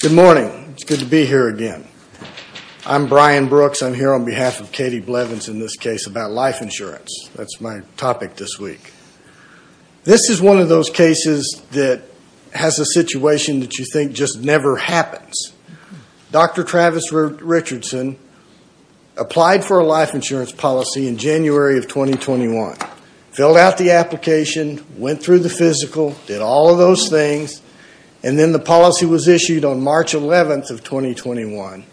Good morning. It's good to be here again. I'm Brian Brooks. I'm here on behalf of Katie Blevins in this case about life insurance. That's my topic this week. This is one of those cases that has a situation that you think just never happens. Dr. Travis Richardson applied for a life insurance policy in January of 2021, filled out the application, went through the physical, did all of those things, and then the policy was issued on March 11 of 2021.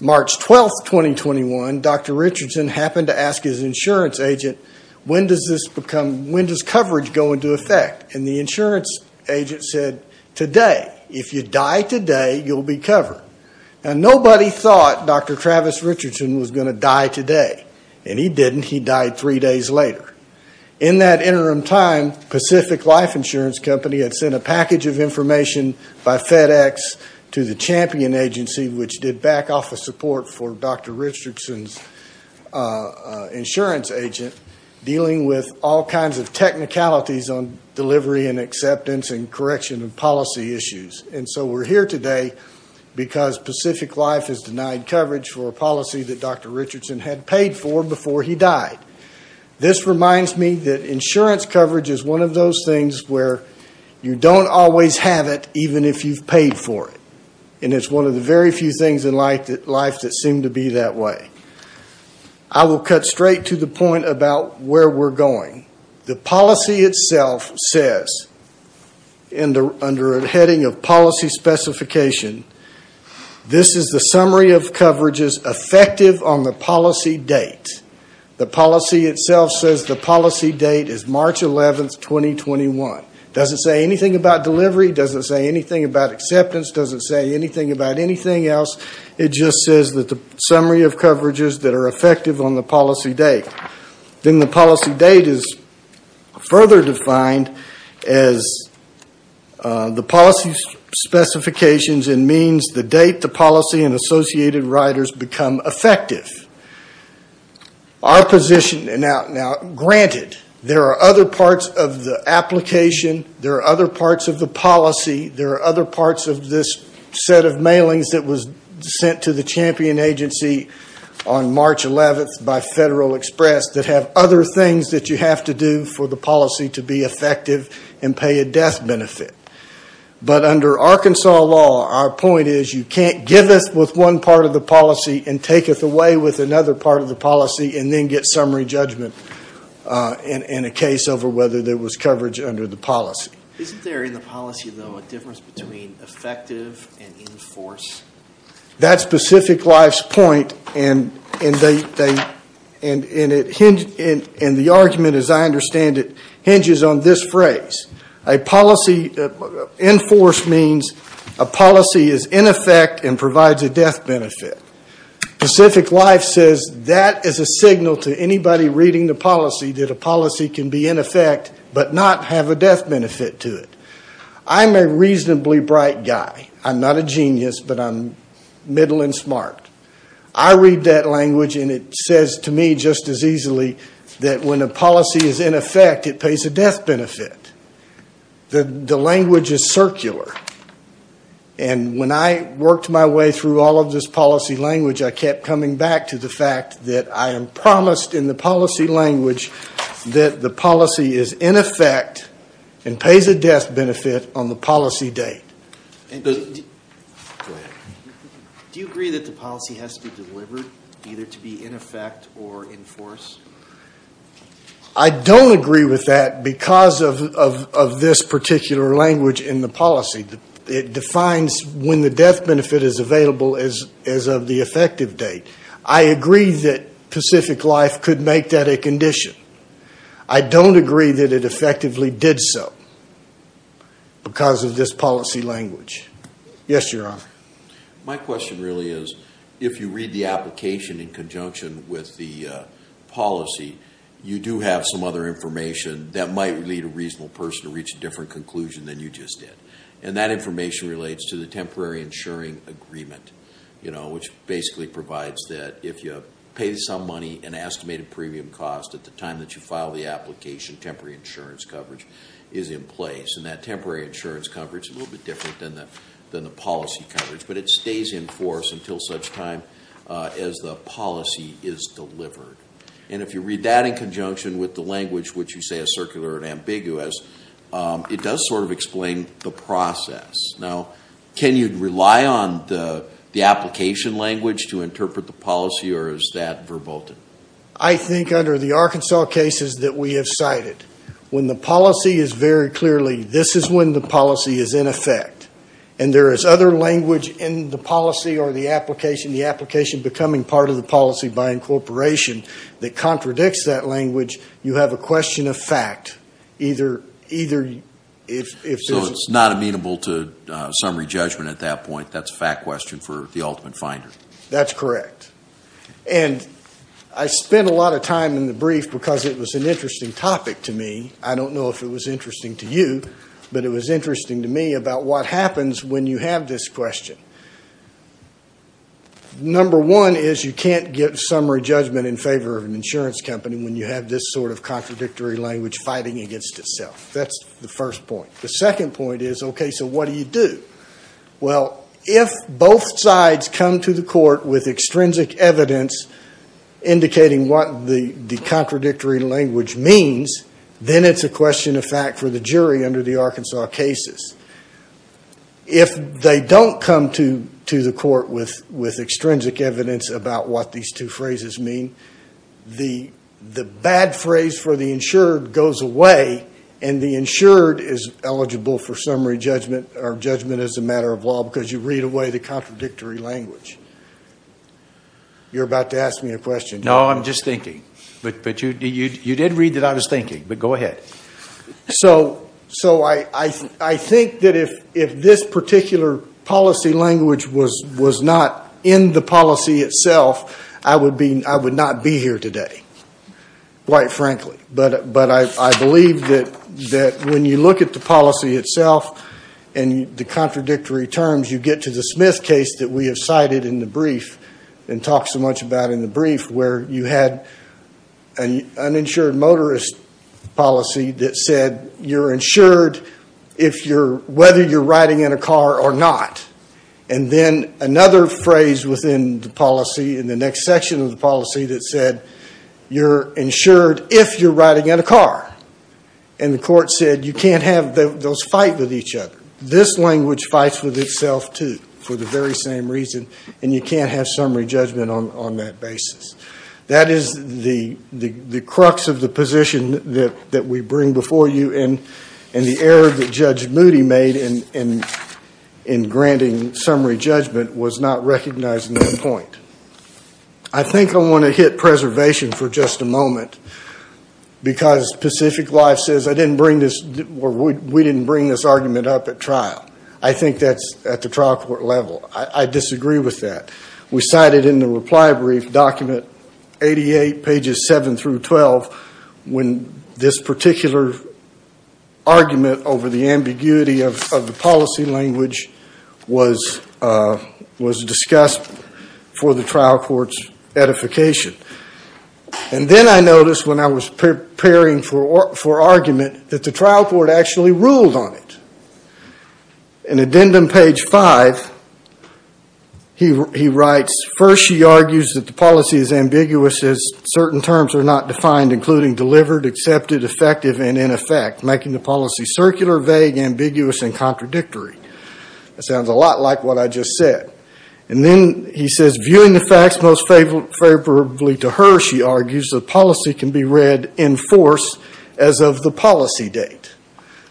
March 12, 2021, Dr. Richardson happened to ask his insurance agent, when does coverage go into effect? The insurance agent said, today. If you die today, you'll be covered. Nobody thought Dr. Travis Richardson was going to die today, and he didn't. He died three Pacific Life Insurance Company had sent a package of information by FedEx to the Champion Agency, which did back office support for Dr. Richardson's insurance agent, dealing with all kinds of technicalities on delivery and acceptance and correction of policy issues. So we're here today because Pacific Life has denied coverage for a policy that Dr. Richardson had paid for before he died. This reminds me that insurance coverage is one of those things where you don't always have it, even if you've paid for it. It's one of the very few things in life that seem to be that way. I will cut straight to the point about where we're going. The policy itself says, under a heading of policy specification, this is the summary of coverages effective on the policy date. The policy itself says the policy date is March 11, 2021. It doesn't say anything about delivery. It doesn't say anything about acceptance. It doesn't say anything about anything else. It just says that the summary of coverages that are effective on the policy date. Then the policy date is further defined as the policy specifications and means the date the policy and associated riders become effective. Granted, there are other parts of the application. There are other parts of the policy. There are other parts of this set of mailings that was sent to the Champion Agency on March 11 by Federal Express that have other things that you have to do for the policy to be effective and pay a death benefit. Under Arkansas law, our point is you can't give us with one part of the policy and take us away with another part of the policy and then get summary judgment in a case over whether there was coverage under the policy. Isn't there in the policy, though, a difference between effective and in force? That's Pacific Life's point and the argument, as I understand it, hinges on this phrase. A policy in force means a policy is in effect and provides a death benefit. Pacific Life says that is a signal to anybody reading the policy that a policy can be in effect but not have a death benefit to it. I'm a reasonably bright guy. I'm not a genius, but I'm middle and smart. I read that language and it says to me just as easily that when a policy is in effect, it pays a death benefit. The language is circular. When I worked my way through all of this policy language, I kept coming back to the fact that I am promised in the policy is in effect and pays a death benefit on the policy date. Do you agree that the policy has to be delivered either to be in effect or in force? I don't agree with that because of this particular language in the policy. It defines when the death benefit is available as of the effective date. I agree that Pacific Life could make that a condition. I don't agree that it effectively did so because of this policy language. My question really is if you read the application in conjunction with the policy, you do have some other information that might lead a reasonable person to reach a different conclusion than you just did. That information relates to the temporary insuring agreement, which basically provides that if you pay some money, an estimated premium cost at the time that you file the application, temporary insurance coverage is in place. That temporary insurance coverage is a little bit different than the policy coverage, but it stays in force until such time as the policy is delivered. If you read that in conjunction with the language which you say is circular and ambiguous, it does explain the process. Now, can you rely on the application language to interpret the policy, or is that verboten? I think under the Arkansas cases that we have cited, when the policy is very clearly, this is when the policy is in effect, and there is other language in the policy or the application becoming part of the policy by incorporation that contradicts that language, you have a question of fact, either if there's a... Summary judgment at that point, that's a fact question for the ultimate finder. That's correct. And I spent a lot of time in the brief because it was an interesting topic to me. I don't know if it was interesting to you, but it was interesting to me about what happens when you have this question. Number one is you can't get summary judgment in favor of an insurance company when you have this sort of contradictory language fighting against itself. That's the first point. The second point is, okay, so what do you do? Well, if both sides come to the court with extrinsic evidence indicating what the contradictory language means, then it's a question of fact for the jury under the Arkansas cases. If they don't come to the court with extrinsic evidence about what these two phrases mean, the bad phrase for the insured goes away, and the insured is eligible for summary judgment or judgment as a matter of law because you read away the contradictory language. You're about to ask me a question. No, I'm just thinking. But you did read that I was thinking, but go ahead. So I think that if this particular policy language was not in the policy itself, I would not be here today, quite frankly. But I believe that when you look at the policy itself and the contradictory terms, you get to the Smith case that we have cited in the brief and talked so much about in the brief where you had an uninsured motorist policy that said you're insured whether you're riding in a car or not. And then another phrase within the policy that said you're insured if you're riding in a car. And the court said you can't have those fight with each other. This language fights with itself, too, for the very same reason. And you can't have summary judgment on that basis. That is the crux of the position that we bring before you, and the error that Judge Moody made in granting summary judgment was not recognizing that point. I think I want to hit preservation for just a moment because Pacific Life says I didn't bring this, or we didn't bring this argument up at trial. I think that's at the trial court level. I disagree with that. We cited in the reply brief document 88, pages 7 through 12, when this particular argument over the ambiguity of the policy language was discussed for the trial court's edification. And then I noticed when I was preparing for argument that the trial court actually ruled on it. In addendum page 5, he writes, first she argues that the policy is ambiguous as certain terms are not defined, including delivered, accepted, effective, and in effect, making the policy circular, vague, ambiguous, and contradictory. That sounds a lot like what I just said. And then he says, viewing the facts most favorably to her, she argues, the policy can be read in force as of the policy date.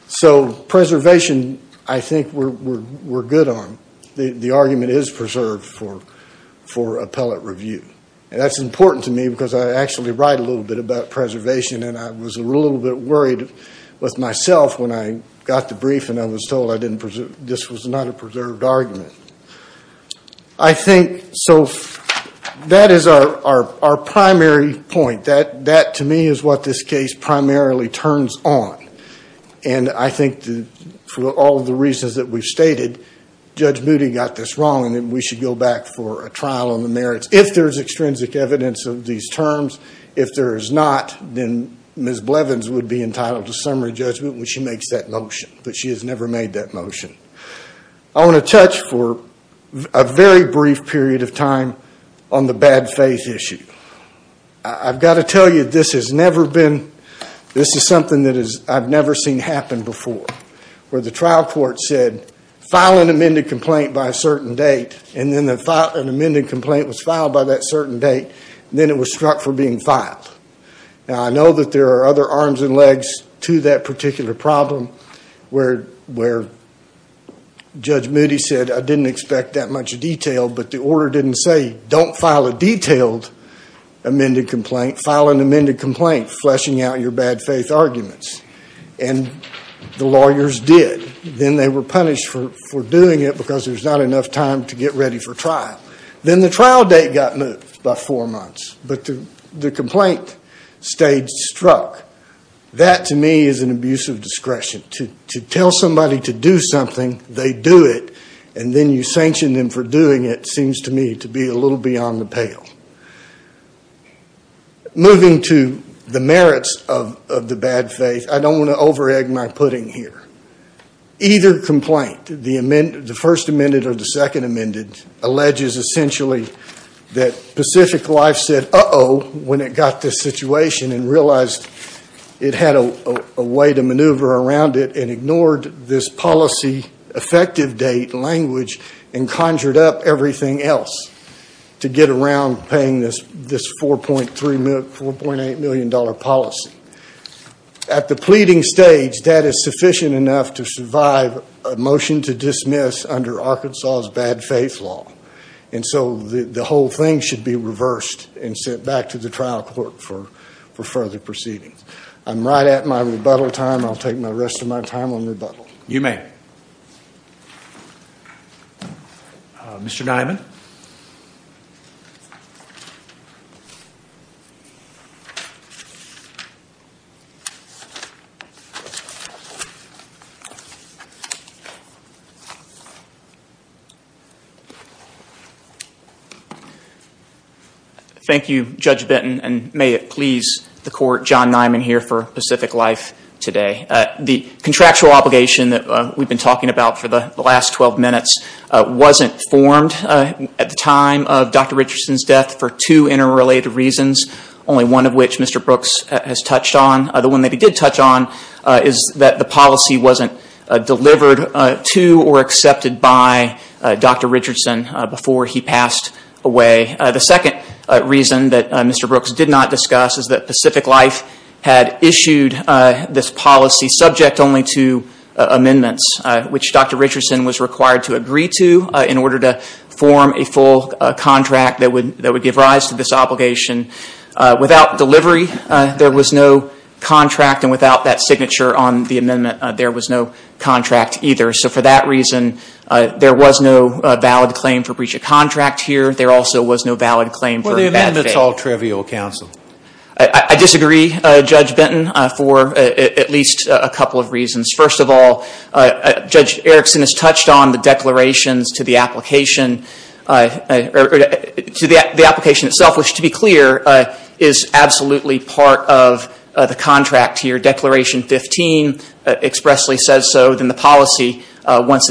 So preservation, I think, we're good on. The argument is preserved for appellate review. And that's important to me because I actually write a little bit about preservation and I was a little bit worried with myself when I got the brief and I was told this was not a preserved argument. I think, so that is our primary point. That, to me, is what this case primarily turns on. And I think for all of the reasons that we've stated, Judge Moody got this wrong and we should go back for a trial on the merits. If there's extrinsic evidence of these terms, if there is not, then Ms. Blevins would be entitled to summary judgment when she makes that motion. But she has never made that motion. I want to touch for a very brief period of time on the bad faith issue. I've got to tell you this has never been, this is something that I've never seen happen before. Where the trial court said, file an amended complaint by a certain date, and then an amended complaint was filed by that certain date, and then it was struck for being filed. Now, I know that there are other arms and legs to that particular problem where Judge Moody said, I didn't expect that much detail, but the order didn't say, don't file a detailed amended complaint, file an amended complaint fleshing out your bad faith arguments. And the lawyers did. Then they were punished for doing it because there was not enough time to get ready for trial. Then the trial date got moved by four months, but the complaint stayed struck. That, to me, is an abuse of discretion. To tell somebody to do something, they do it, and then you sanction them for doing it seems to me to be a little beyond the pale. Moving to the merits of the bad faith, I don't want to over-egg my pudding here. Either complaint, the first amended or the second amended, alleges essentially that Pacific Life said uh-oh when it got this situation and realized it had a way to maneuver around it and ignored this policy, effective date, language, and conjured up everything else to get around paying this $4.8 million policy. At the pleading stage, that is sufficient enough to survive a motion to dismiss under Arkansas' bad faith law. And so the whole thing should be reversed and sent back to the trial court for further proceedings. I'm right at my rebuttal time. I'll take the rest of my time on rebuttal. You may. Mr. Nyman. Thank you, Judge Benton, and may it please the court, John Nyman here for Pacific Life today. The contractual obligation that we've been talking about for the last 12 minutes wasn't formed at the time of Dr. Richardson's death for two interrelated reasons, only one of which Mr. Brooks has touched on. The one that he did touch on is that the policy wasn't delivered to or accepted by Dr. Richardson before he passed away. The second reason that this policy, subject only to amendments, which Dr. Richardson was required to agree to in order to form a full contract that would give rise to this obligation, without delivery there was no contract and without that signature on the amendment there was no contract either. So for that reason, there was no valid claim for breach of contract here. There also was no valid claim for bad faith. Well, the amendment's all trivial, counsel. I disagree, Judge Benton, for at least a couple of reasons. First of all, Judge Erickson has touched on the declarations to the application itself, which to be clear is absolutely part of the contract here. Declaration 15 expressly says so, then the policy, once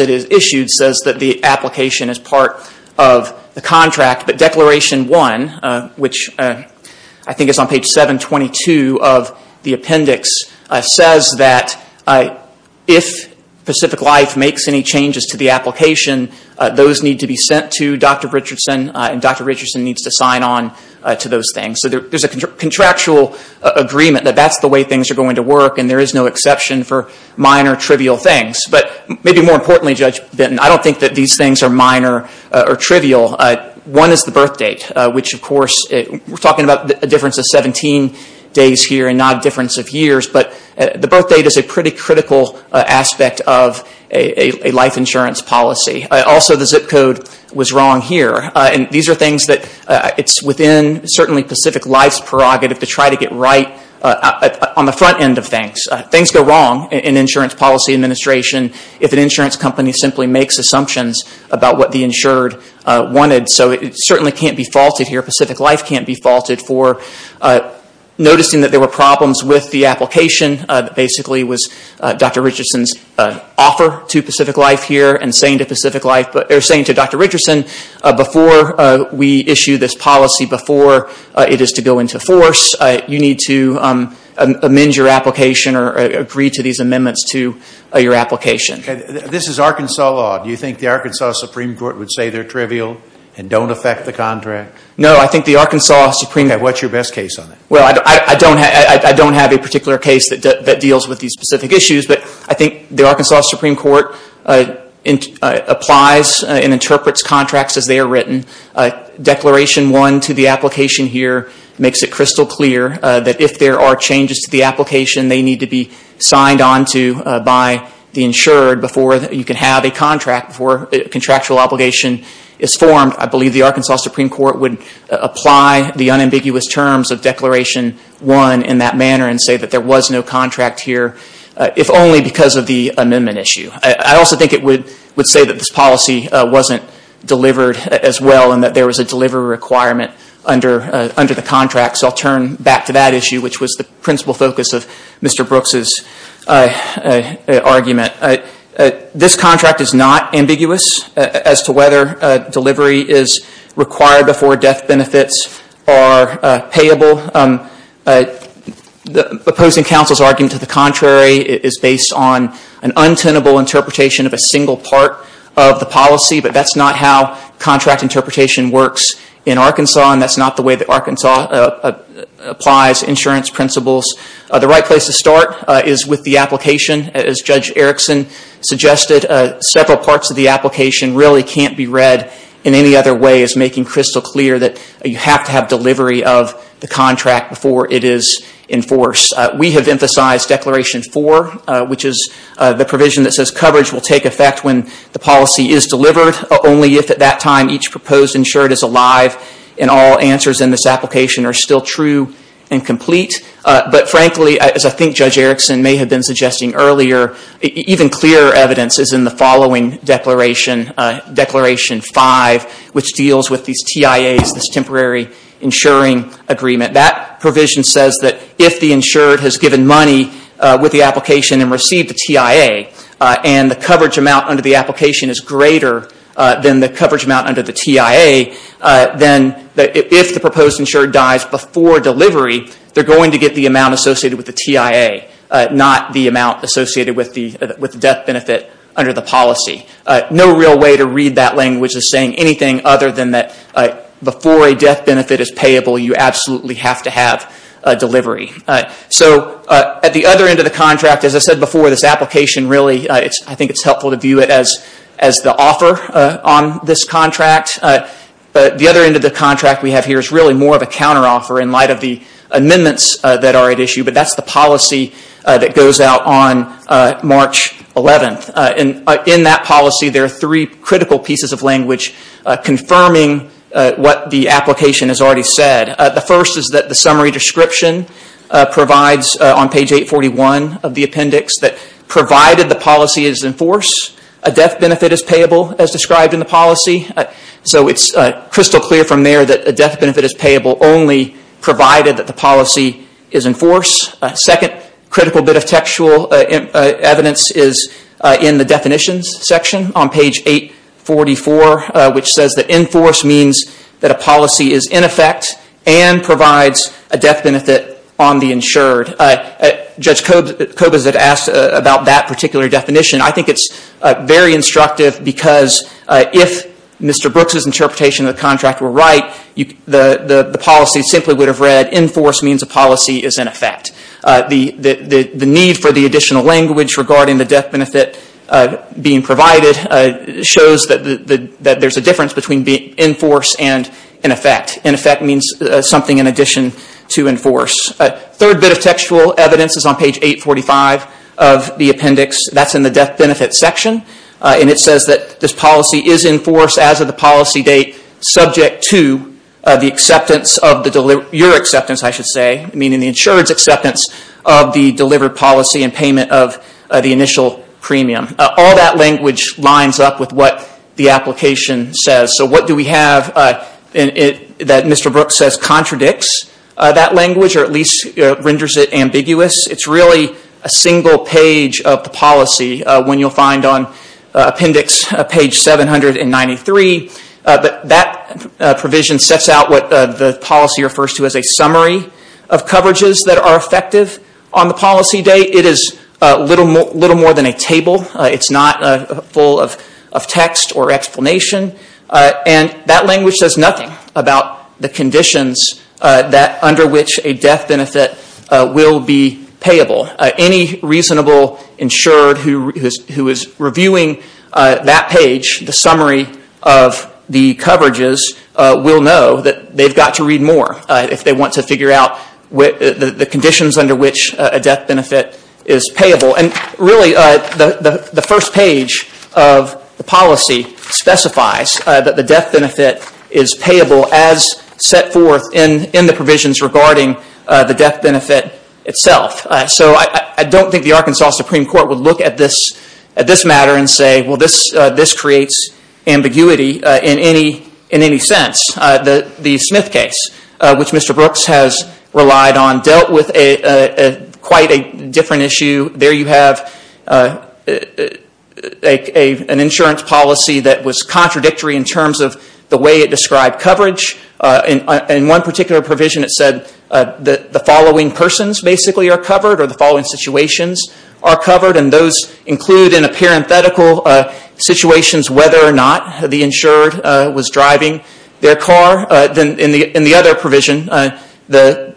it is issued, says that the application is part of the contract. But Declaration 1, which I think is on page 722 of the appendix, says that if Pacific Life makes any changes to the application, those need to be sent to Dr. Richardson and Dr. Richardson needs to sign on to those things. So there's a contractual agreement that that's the way things are going to work and there Maybe more importantly, Judge Benton, I don't think that these things are minor or trivial. One is the birth date, which of course, we're talking about a difference of 17 days here and not a difference of years, but the birth date is a pretty critical aspect of a life insurance policy. Also, the zip code was wrong here and these are things that it's within certainly Pacific Life's prerogative to try to get right on the front end of things. Things go wrong in insurance policy administration if an insurance company simply makes assumptions about what the insured wanted. So it certainly can't be faulted here. Pacific Life can't be faulted for noticing that there were problems with the application. Basically, it was Dr. Richardson's offer to Pacific Life here and saying to Dr. Richardson, before we issue your application or agree to these amendments to your application. This is Arkansas law. Do you think the Arkansas Supreme Court would say they're trivial and don't affect the contract? No, I think the Arkansas Supreme Court What's your best case on it? Well, I don't have a particular case that deals with these specific issues, but I think the Arkansas Supreme Court applies and interprets contracts as they are written. Declaration 1 to the application here makes it crystal clear that if there are changes to the application, they need to be signed onto by the insured before you can have a contract, before a contractual obligation is formed. I believe the Arkansas Supreme Court would apply the unambiguous terms of Declaration 1 in that manner and say that there was no contract here, if only because of the amendment issue. I also think it would say that this policy wasn't delivered as well and that there was a delivery requirement under the contract. So I'll turn back to that issue, which was the principal focus of Mr. Brooks' argument. This contract is not ambiguous as to whether delivery is required before death benefits are payable. The opposing counsel's argument to the contrary is based on an untenable interpretation of a single part of the policy, but that's not how contract interpretation works in Arkansas and that's not the way that Arkansas applies insurance principles. The right place to start is with the application. As Judge Erickson suggested, several parts of the application really can't be read in any other way as making crystal clear that you have to have delivery of the contract before it is enforced. We have emphasized Declaration 4, which is the provision that says coverage will take effect when the policy is delivered, only if at that time each proposed insured is alive and all answers in this application are still true and complete. But frankly, as I think Judge Erickson may have been suggesting earlier, even clearer evidence is in the following Declaration, Declaration 5, which deals with these TIAs, this Temporary Insuring Agreement. That provision says that if the insured has given money with the application and received the TIA, and the coverage amount under the application is greater than the coverage amount under the TIA, then if the proposed insured dies before delivery, they're going to get the amount associated with the TIA, not the amount associated with the death benefit under the policy. No real way to read that language as saying anything other than that before a death benefit is payable, you absolutely have to have delivery. So at the other end of the contract, as I said before, this application really, I think it's helpful to view it as the offer on this contract. The other end of the contract we have here is really more of a counteroffer in light of the amendments that are at issue, but that's the policy that goes out on March 11th. In that policy there are three critical pieces of language confirming what the application has already said. The first is that the summary description provides on page 841 of the appendix that provided the policy is enforced, a death benefit is payable as described in the policy. So it's crystal clear from there that a death benefit is enforced. Second critical bit of textual evidence is in the definitions section on page 844, which says that enforced means that a policy is in effect and provides a death benefit on the insured. Judge Kobes had asked about that particular definition. I think it's very instructive because if Mr. Brooks' interpretation of the contract were right, the policy simply would have read enforced means a policy is in effect. The need for the additional language regarding the death benefit being provided shows that there's a difference between being enforced and in effect. In effect means something in addition to enforce. Third bit of textual evidence is on page 845 of the appendix. That's in the death benefit section and it says that this policy is enforced as of the policy date subject to your acceptance, meaning the insured's acceptance of the delivered policy and payment of the initial premium. All that language lines up with what the application says. So what do we have that Mr. Brooks says contradicts that language or at least renders it ambiguous? It's really a single page of the policy when you'll find on appendix page 793 that provision sets out what the policy refers to as a summary of coverages that are effective on the policy date. It is little more than a table. It's not full of text or explanation and that language says nothing about the conditions under which a death benefit will be payable. Any reasonable insured who is reviewing that page, the summary of the coverages, will be know that they've got to read more if they want to figure out the conditions under which a death benefit is payable. And really the first page of the policy specifies that the death benefit is payable as set forth in the provisions regarding the death benefit itself. So I don't think the Arkansas Supreme Court would look at this matter and say this creates ambiguity in any sense. The Smith case, which Mr. Brooks has relied on, dealt with quite a different issue. There you have an insurance policy that was contradictory in terms of the way it described coverage. In one particular provision it said the following persons basically are covered or the following situations are covered and those include in a parenthetical situations whether or not the insured was driving their car. In the other provision, those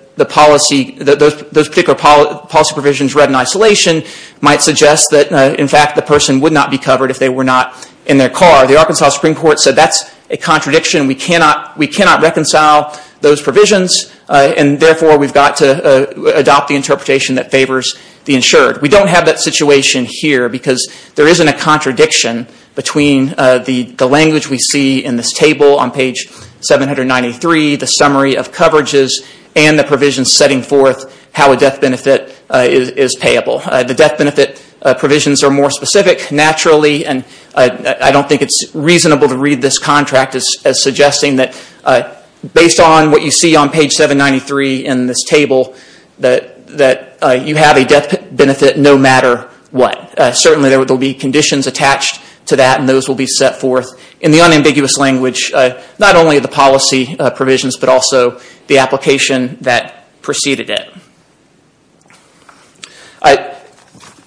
particular policy provisions read in isolation might suggest that in fact the person would not be covered if they were not in their car. The Arkansas Supreme Court said that's a contradiction. We cannot reconcile those provisions and therefore we've got to adopt the interpretation that favors the insured. We don't have that situation here because there isn't a contradiction between the language we see in this table on page 793, the summary of coverages and the provisions setting forth how a death benefit is payable. The death benefit provisions are more specific naturally and I don't think it's reasonable to read this contract as suggesting that based on what you see on page 793 in this table that you have a death benefit no matter what. Certainly there will be conditions attached to that and those will be set forth in the unambiguous language, not only the policy provisions but also the application that preceded it.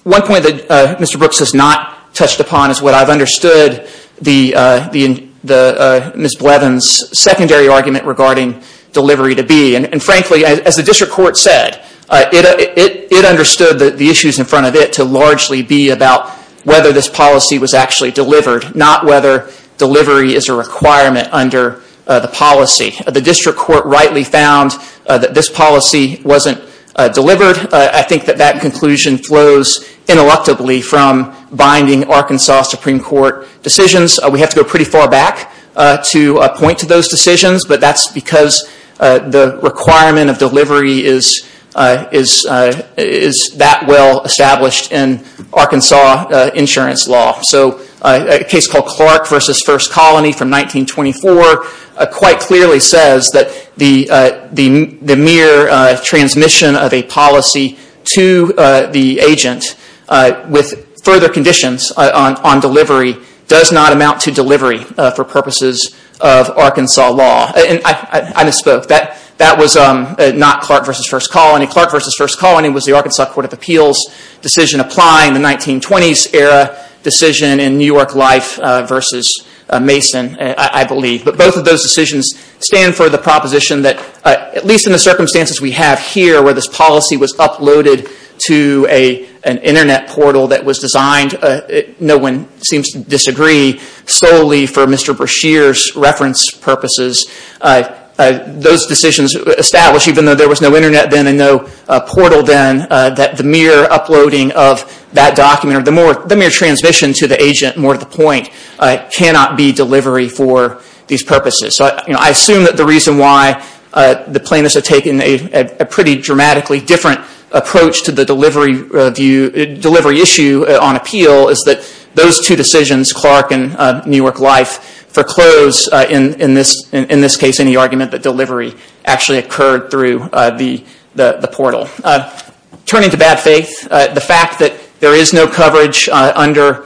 One point that Mr. Brooks has not touched upon is what I've understood Ms. Blevins secondary argument regarding delivery to be and frankly as the district court said, it understood the issues in front of it to largely be about whether this policy was actually delivered, not whether delivery is a requirement under the policy. The district court rightly found that this policy wasn't delivered. I think that that conclusion flows ineluctably from binding Arkansas Supreme Court decisions. We have to go pretty far back to point to those decisions but that's because the requirement of delivery is that well established in Arkansas insurance law. A case called Clark v. First Colony from 1924 quite clearly says that the mere transmission of a policy to the agent with further conditions on delivery does not amount to delivery for purposes of Arkansas law. I misspoke. That was not Clark v. First Colony. Clark v. First Colony was the Arkansas Court of Appeals decision applying the 1920s era decision in New York Life v. Mason I believe. But both of those decisions stand for the proposition that at least in the circumstances we have here where this policy was uploaded to an internet portal that was designed, no one seems to disagree, solely for Mr. Brashear's reference purposes. Those decisions establish even though there was no internet then and no portal then that the mere uploading of that document or the mere transmission to the agent more to the point cannot be delivery for these purposes. I assume that the reason why the plaintiffs have taken a pretty dramatically different approach to the delivery issue on appeal is that those two decisions, Clark and New York Life, foreclose in this case any argument that delivery actually occurred through the portal. Turning to bad faith, the fact that there is no coverage under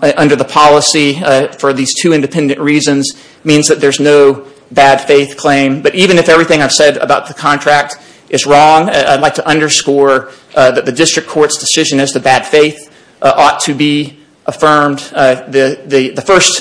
the policy for these two independent reasons means that there is no bad faith claim. But even if everything I've said about the contract is wrong, I'd like to underscore that the district court's decision as to bad faith ought to be affirmed. The first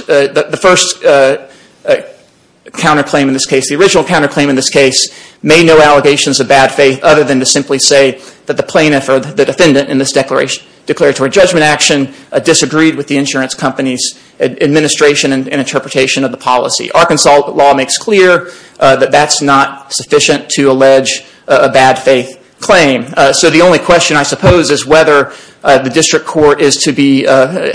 counterclaim in this case, the original counterclaim in this case, made no allegations of bad faith other than to simply say that the plaintiff or the defendant in this declaratory judgment action disagreed with the insurance company's administration and interpretation of the policy. The Arkansas law makes clear that that's not sufficient to allege a bad faith claim. So the only question I suppose is whether the district court is to be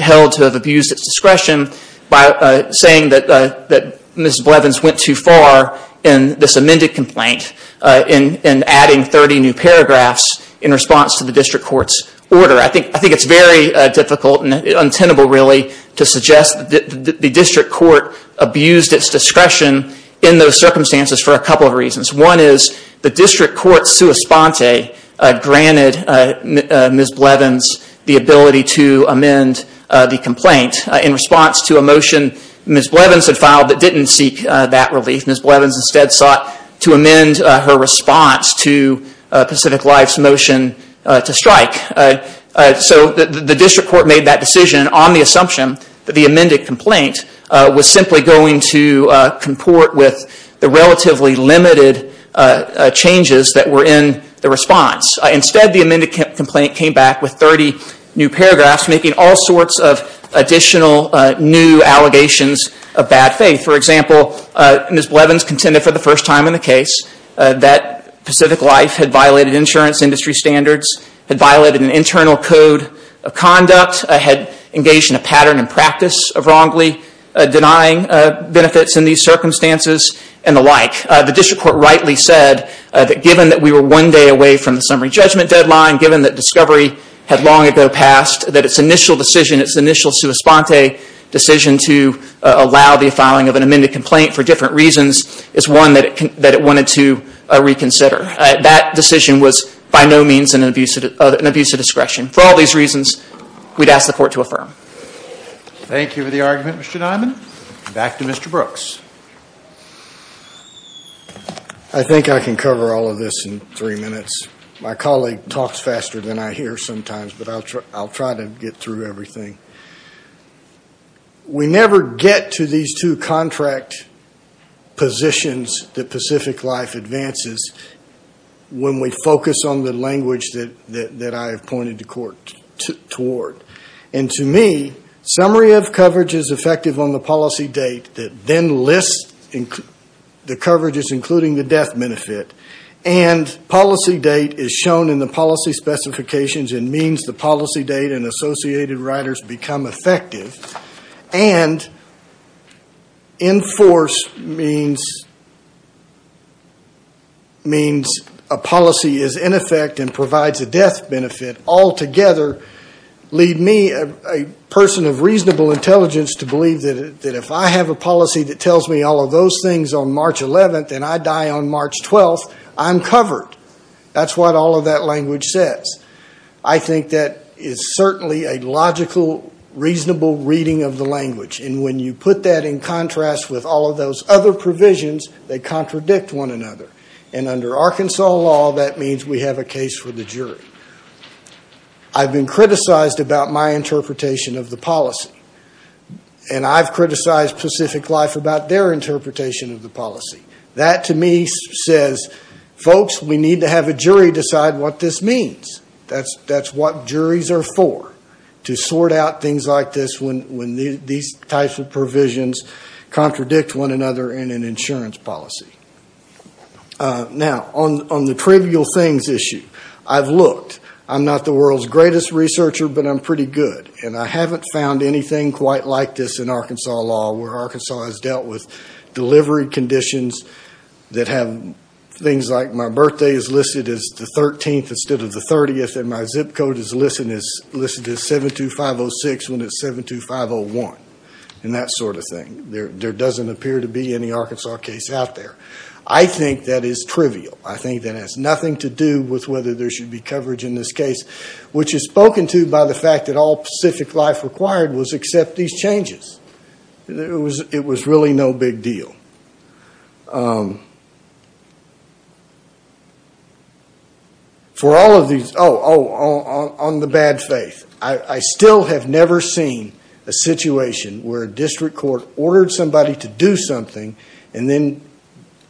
held to have abused its discretion by saying that Ms. Blevins went too far in this amended complaint and adding 30 new paragraphs in response to the district court's order. I think it's very difficult and untenable really to suggest that the district court abused its discretion in those circumstances for a couple of reasons. One is the district court's sua sponte granted Ms. Blevins the ability to amend the complaint in response to a motion Ms. Blevins had filed that didn't seek that relief. Ms. Blevins instead sought to amend her response to Pacific Life's motion to strike. So the district court made that decision on the assumption that the amended complaint was simply going to comport with the relatively limited changes that were in the response. Instead, the amended complaint came back with 30 new paragraphs making all sorts of additional new allegations of bad faith. For example, Ms. Blevins contended for the first time in the case that Pacific Life had violated insurance industry standards, had violated an internal code of conduct, had engaged in a pattern and practice of wrongly denying benefits in these circumstances and the like. The district court rightly said that given that we were one day away from the summary judgment deadline, given that discovery had long ago passed, that its initial decision, its initial sua sponte decision to allow the filing of an amended complaint for different reasons is one that it wanted to reconsider. That decision was by no means an abuse of discretion. For all these reasons, we'd ask the court to affirm. Thank you for the argument Mr. Dimon. Back to Mr. Brooks. I think I can cover all of this in three minutes. My colleague talks faster than I hear sometimes but I'll try to get through everything. We never get to these two contract positions that Pacific Life advances when we focus on the language that I have pointed the court toward. To me, summary of coverage is effective on the policy date that then lists the coverages including the death benefit. Policy date is shown in the policy specifications and means the policy date and associated riders become effective. Enforce means a policy is in effect and provides a death benefit. Altogether, leave me a person of reasonable intelligence to believe that if I have a policy that tells me all of those things on March 11th and I get a logical, reasonable reading of the language. When you put that in contrast with all of those other provisions, they contradict one another. Under Arkansas law, that means we have a case for the jury. I've been criticized about my interpretation of the policy and I've criticized Pacific Life about their interpretation of the policy. That to me says, folks, we juries are for to sort out things like this when these types of provisions contradict one another in an insurance policy. On the trivial things issue, I've looked. I'm not the world's greatest researcher but I'm pretty good. I haven't found anything quite like this in Arkansas law where Arkansas has dealt with delivery conditions that have things like my birthday is listed as the 13th instead of the 30th and my zip code is listed as 72506 when it's 72501. There doesn't appear to be any Arkansas case out there. I think that is trivial. I think that has nothing to do with whether there should be coverage in this case, which is spoken to by the fact that all Pacific Life required was accept these changes. It was really no big deal. Oh, on the bad faith, I still have never seen a situation where a district court ordered somebody to do something and then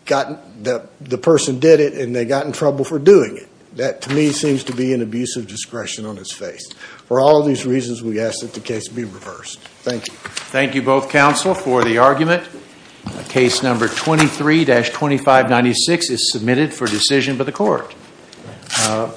the person did it and they got in trouble for doing it. That to me seems to be an abuse of discretion on its face. For all of these reasons, we ask that the case be reversed. Thank you. Thank you both counsel for the argument. Case number 23-2596 is submitted for decision by the court.